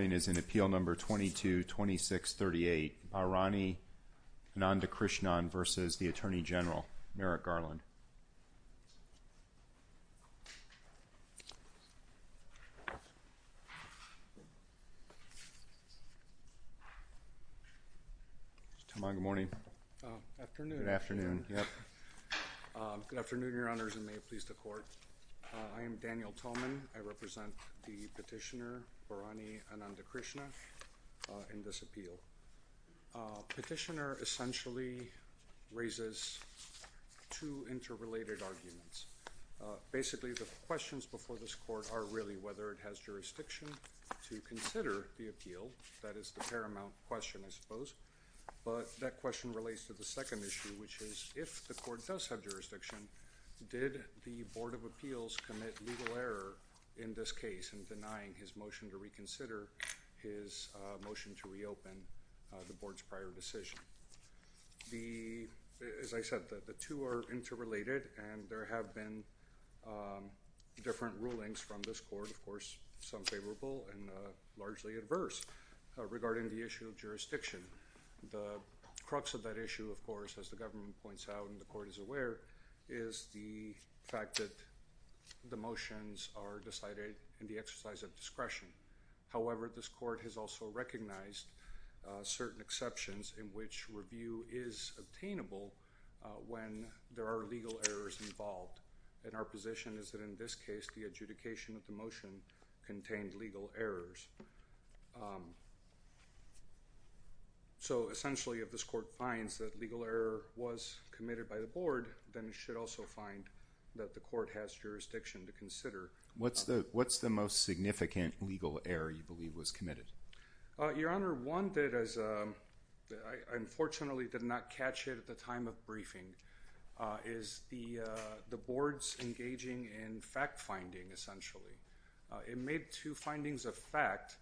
222638 Barani Anandakrishnan v. Attorney General Merrick Garland. Good morning. Good afternoon. Good afternoon, Your Honors, and may it please the Court. I am Daniel Tolman. I represent the petitioner Barani Anandakrishnan in this appeal. Petitioner essentially raises two interrelated arguments. Basically, the questions before this Court are really whether it has jurisdiction to consider the appeal. That is the paramount question, I suppose. But that question relates to the second issue, which is if the Court does have jurisdiction, did the Board of Appeals commit legal error in this case in denying his motion to reconsider his motion to reopen the Board's prior decision? As I said, the two are interrelated, and there have been different rulings from this Court, of course, some favorable and largely adverse, regarding the issue of jurisdiction. The crux of that issue, of course, as the government points out and the Court is aware, is the fact that the motions are decided in the exercise of discretion. However, this Court has also recognized certain exceptions in which review is obtainable when there are legal errors involved. And our position is that in this case, the adjudication of the motion contained legal errors. So essentially, if this Court finds that legal error was committed by the Board, then it should also find that the Court has jurisdiction to consider. What's the most significant legal error you believe was committed? Your Honor, one that unfortunately did not catch it at the time of briefing is the Board's engaging in fact-finding, essentially. It made two findings of fact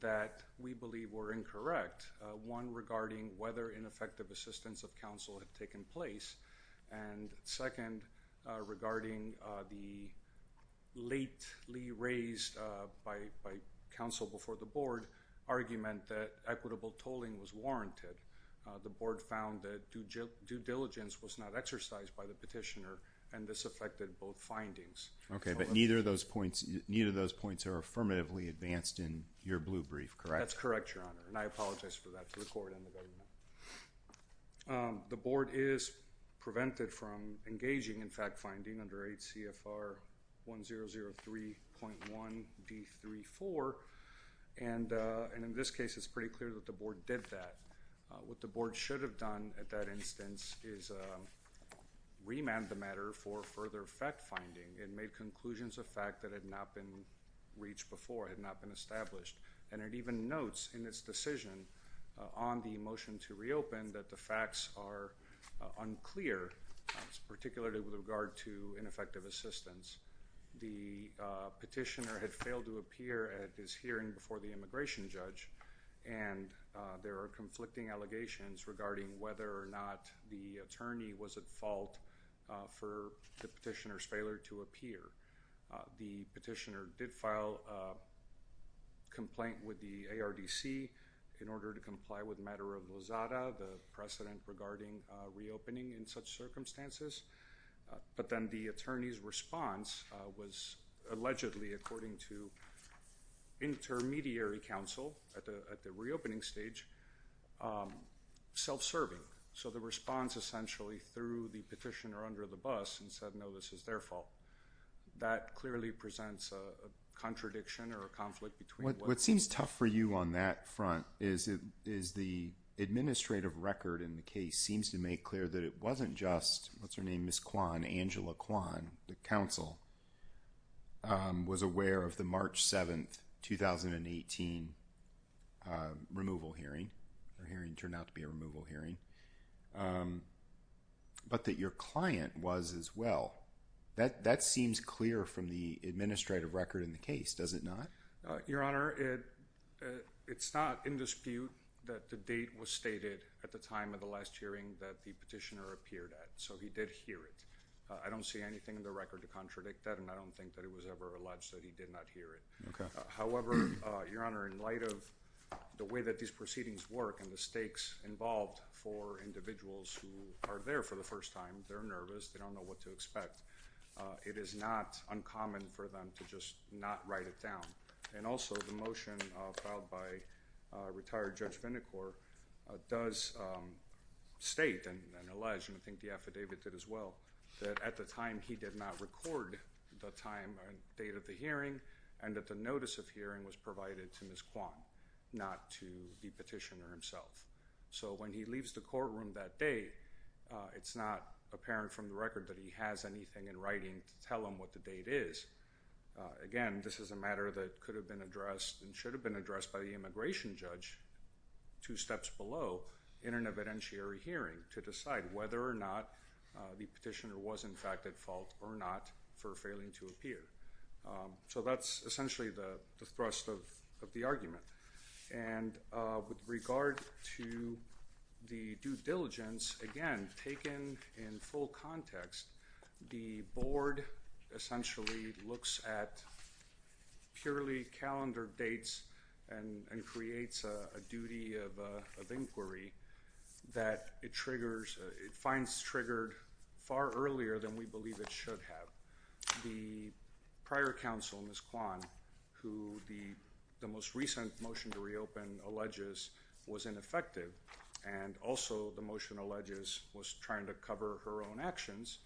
that we believe were incorrect. One, regarding whether ineffective assistance of counsel had taken place. And second, regarding the lately raised by counsel before the Board argument that equitable tolling was warranted. The Board found that due diligence was not exercised by the petitioner, and this affected both findings. Okay, but neither of those points are affirmatively advanced in your blue brief, correct? That's correct, Your Honor, and I apologize for that to the Court and the government. The Board is prevented from engaging in fact-finding under 8 CFR 1003.1d34, and in this case it's pretty clear that the Board did that. What the Board should have done at that instance is remand the matter for further fact-finding. It made conclusions of fact that had not been reached before, had not been established. And it even notes in its decision on the motion to reopen that the facts are unclear, particularly with regard to ineffective assistance. The petitioner had failed to appear at his hearing before the immigration judge, and there are conflicting allegations regarding whether or not the attorney was at fault for the petitioner's failure to appear. The petitioner did file a complaint with the ARDC in order to comply with matter of Lozada, the precedent regarding reopening in such circumstances. But then the attorney's response was allegedly, according to intermediary counsel at the reopening stage, self-serving. So the response essentially threw the petitioner under the bus and said, no, this is their fault. That clearly presents a contradiction or a conflict between what... What seems tough for you on that front is the administrative record in the case seems to make clear that it wasn't just, what's her name, Ms. Kwan, Angela Kwan, the counsel, was aware of the March 7th, 2018 removal hearing. The hearing turned out to be a removal hearing. But that your client was as well. That seems clear from the administrative record in the case, does it not? Your Honor, it's not in dispute that the date was stated at the time of the last hearing that the petitioner appeared at. So he did hear it. I don't see anything in the record to contradict that. And I don't think that it was ever alleged that he did not hear it. However, Your Honor, in light of the way that these proceedings work and the stakes involved for individuals who are there for the first time, they're nervous. They don't know what to expect. It is not uncommon for them to just not write it down. And also, the motion filed by retired Judge Vindicore does state and allege, and I think the affidavit did as well, that at the time he did not record the date of the hearing and that the notice of hearing was provided to Ms. Kwan, not to the petitioner himself. So when he leaves the courtroom that day, it's not apparent from the record that he has anything in writing to tell him what the date is. Again, this is a matter that could have been addressed and should have been addressed by the immigration judge two steps below in an evidentiary hearing to decide whether or not the petitioner was, in fact, at fault or not for failing to appear. So that's essentially the thrust of the argument. And with regard to the due diligence, again, taken in full context, the board essentially looks at purely calendar dates and creates a duty of inquiry that it finds triggered far earlier than we believe it should have. The prior counsel, Ms. Kwan, who the most recent motion to reopen alleges was ineffective and also the motion alleges was trying to cover her own actions,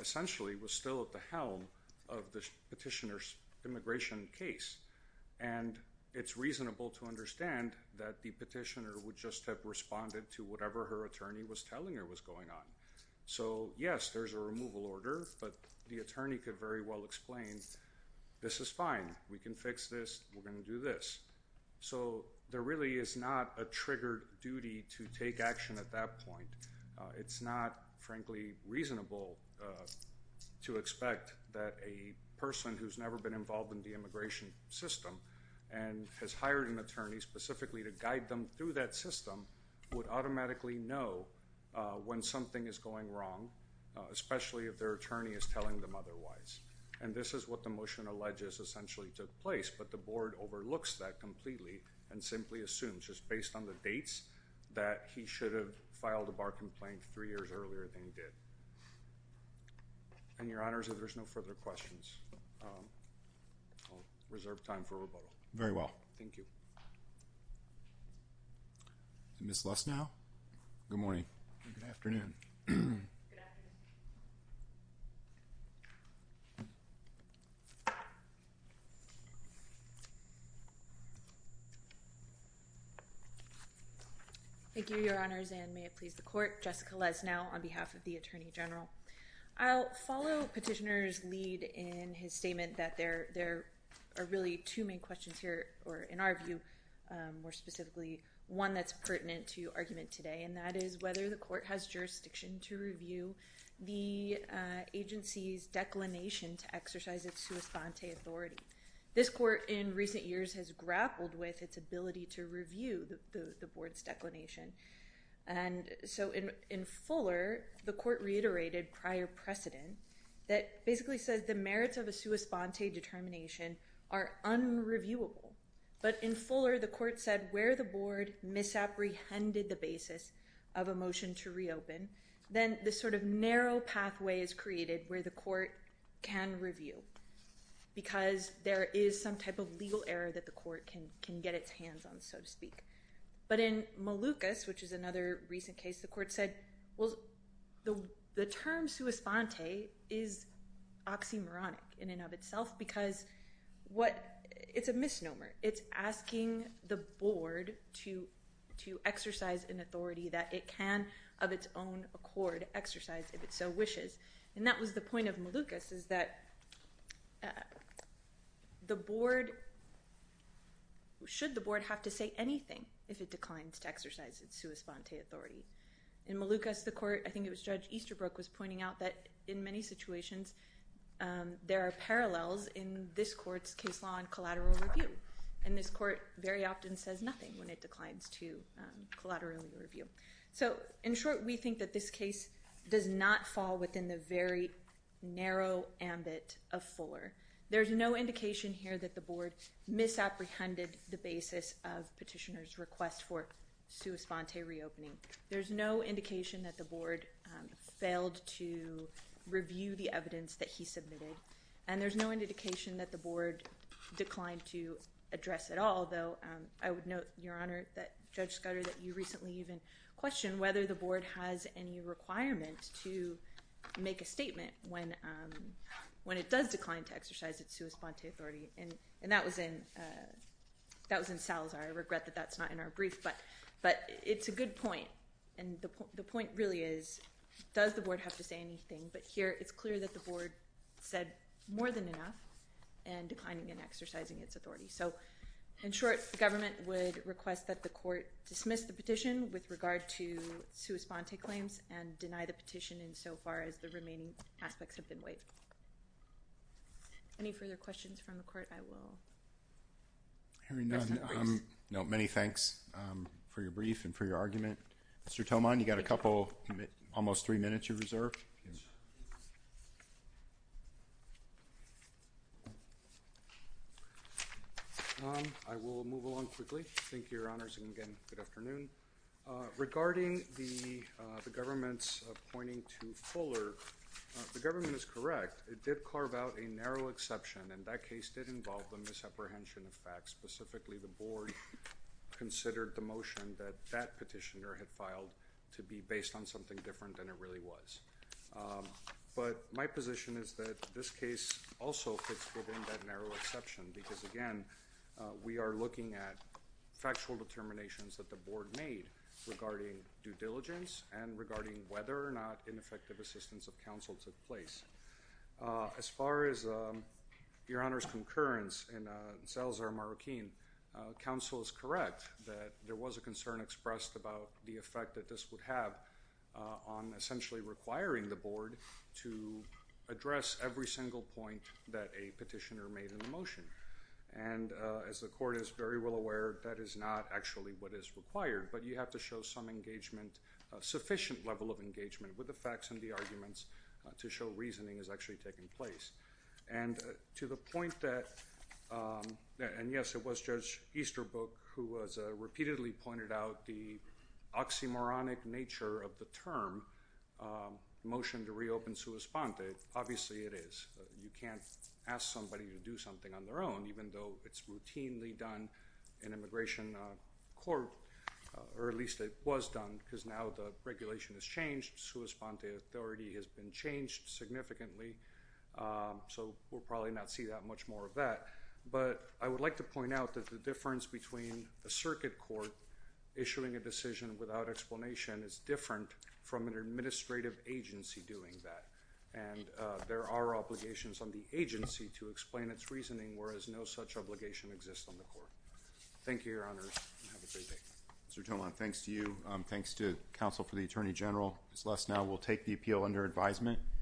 essentially was still at the helm of the petitioner's immigration case. And it's reasonable to understand that the petitioner would just have responded to whatever her attorney was telling her was going on. So, yes, there's a removal order, but the attorney could very well explain, this is fine. We can fix this. We're going to do this. So there really is not a triggered duty to take action at that point. It's not, frankly, reasonable to expect that a person who's never been involved in the immigration system and has hired an attorney specifically to guide them through that system would automatically know when something is going wrong, especially if their attorney is telling them otherwise. And this is what the motion alleges essentially took place, but the board overlooks that completely and simply assumes just based on the dates that he should have filed a bar complaint three years earlier than he did. And, Your Honors, if there's no further questions, I'll reserve time for rebuttal. Very well. Thank you. Ms. Lesnau? Good morning. Good afternoon. Good afternoon. Thank you, Your Honors, and may it please the Court. Jessica Lesnau on behalf of the Attorney General. I'll follow Petitioner's lead in his statement that there are really two main questions here, or in our view, more specifically, one that's pertinent to argument today, and that is whether the court has jurisdiction to review the agency's declination to exercise its sua sponte authority. This court in recent years has grappled with its ability to review the board's declination. And so in Fuller, the court reiterated prior precedent that basically says the merits of a sua sponte determination are unreviewable. But in Fuller, the court said where the board misapprehended the basis of a motion to reopen, then this sort of narrow pathway is created where the court can review because there is some type of legal error that the court can get its hands on, so to speak. But in Malucas, which is another recent case, the court said, well, the term sua sponte is oxymoronic in and of itself because it's a misnomer. It's asking the board to exercise an authority that it can, of its own accord, exercise if it so wishes. And that was the point of Malucas, is that should the board have to say anything if it declines to exercise its sua sponte authority? In Malucas, the court, I think it was Judge Easterbrook, was pointing out that in many situations, there are parallels in this court's case law and collateral review. And this court very often says nothing when it declines to collateral review. So in short, we think that this case does not fall within the very narrow ambit of Fuller. There's no indication here that the board misapprehended the basis of petitioner's request for sua sponte reopening. There's no indication that the board failed to review the evidence that he submitted. And there's no indication that the board declined to address at all, though I would note, Your Honor, that Judge Scudder, that you recently even questioned whether the board has any requirement to make a statement when it does decline to exercise its sua sponte authority. And that was in Salazar. I regret that that's not in our brief, but it's a good point. And the point really is, does the board have to say anything? But here, it's clear that the board said more than enough in declining and exercising its authority. So in short, the government would request that the court dismiss the petition with regard to sua sponte claims and deny the petition insofar as the remaining aspects have been waived. Any further questions from the court? I will present the briefs. No, many thanks for your brief and for your argument. Mr. Tillman, you've got a couple, almost three minutes you reserve. I will move along quickly. Thank you, Your Honors, and again, good afternoon. Regarding the government's appointing to Fuller, the government is correct. It did carve out a narrow exception, and that case did involve the misapprehension of facts. Specifically, the board considered the motion that that petitioner had filed to be based on something different than it really was. But my position is that this case also fits within that narrow exception because, again, we are looking at factual determinations that the board made regarding due diligence and regarding whether or not ineffective assistance of counsel took place. As far as Your Honor's concurrence in Salazar Marroquin, counsel is correct that there was a concern expressed about the effect that this would have on essentially requiring the board to address every single point that a petitioner made in the motion. And as the court is very well aware, that is not actually what is required, but you have to show some engagement, sufficient level of engagement with the facts and the arguments to show reasoning is actually taking place. And to the point that, and yes, it was Judge Easterbrook who repeatedly pointed out the oxymoronic nature of the term, motion to reopen sua sponte, obviously it is. You can't ask somebody to do something on their own, even though it's routinely done in immigration court, or at least it was done because now the regulation has changed. Sua sponte authority has been changed significantly, so we'll probably not see that much more of that. But I would like to point out that the difference between a circuit court issuing a decision without explanation is different from an administrative agency doing that. And there are obligations on the agency to explain its reasoning, whereas no such obligation exists on the court. Thank you, Your Honor, and have a great day. Mr. Tomlin, thanks to you, thanks to counsel for the Attorney General. Ms. Lesnow will take the appeal under advisement.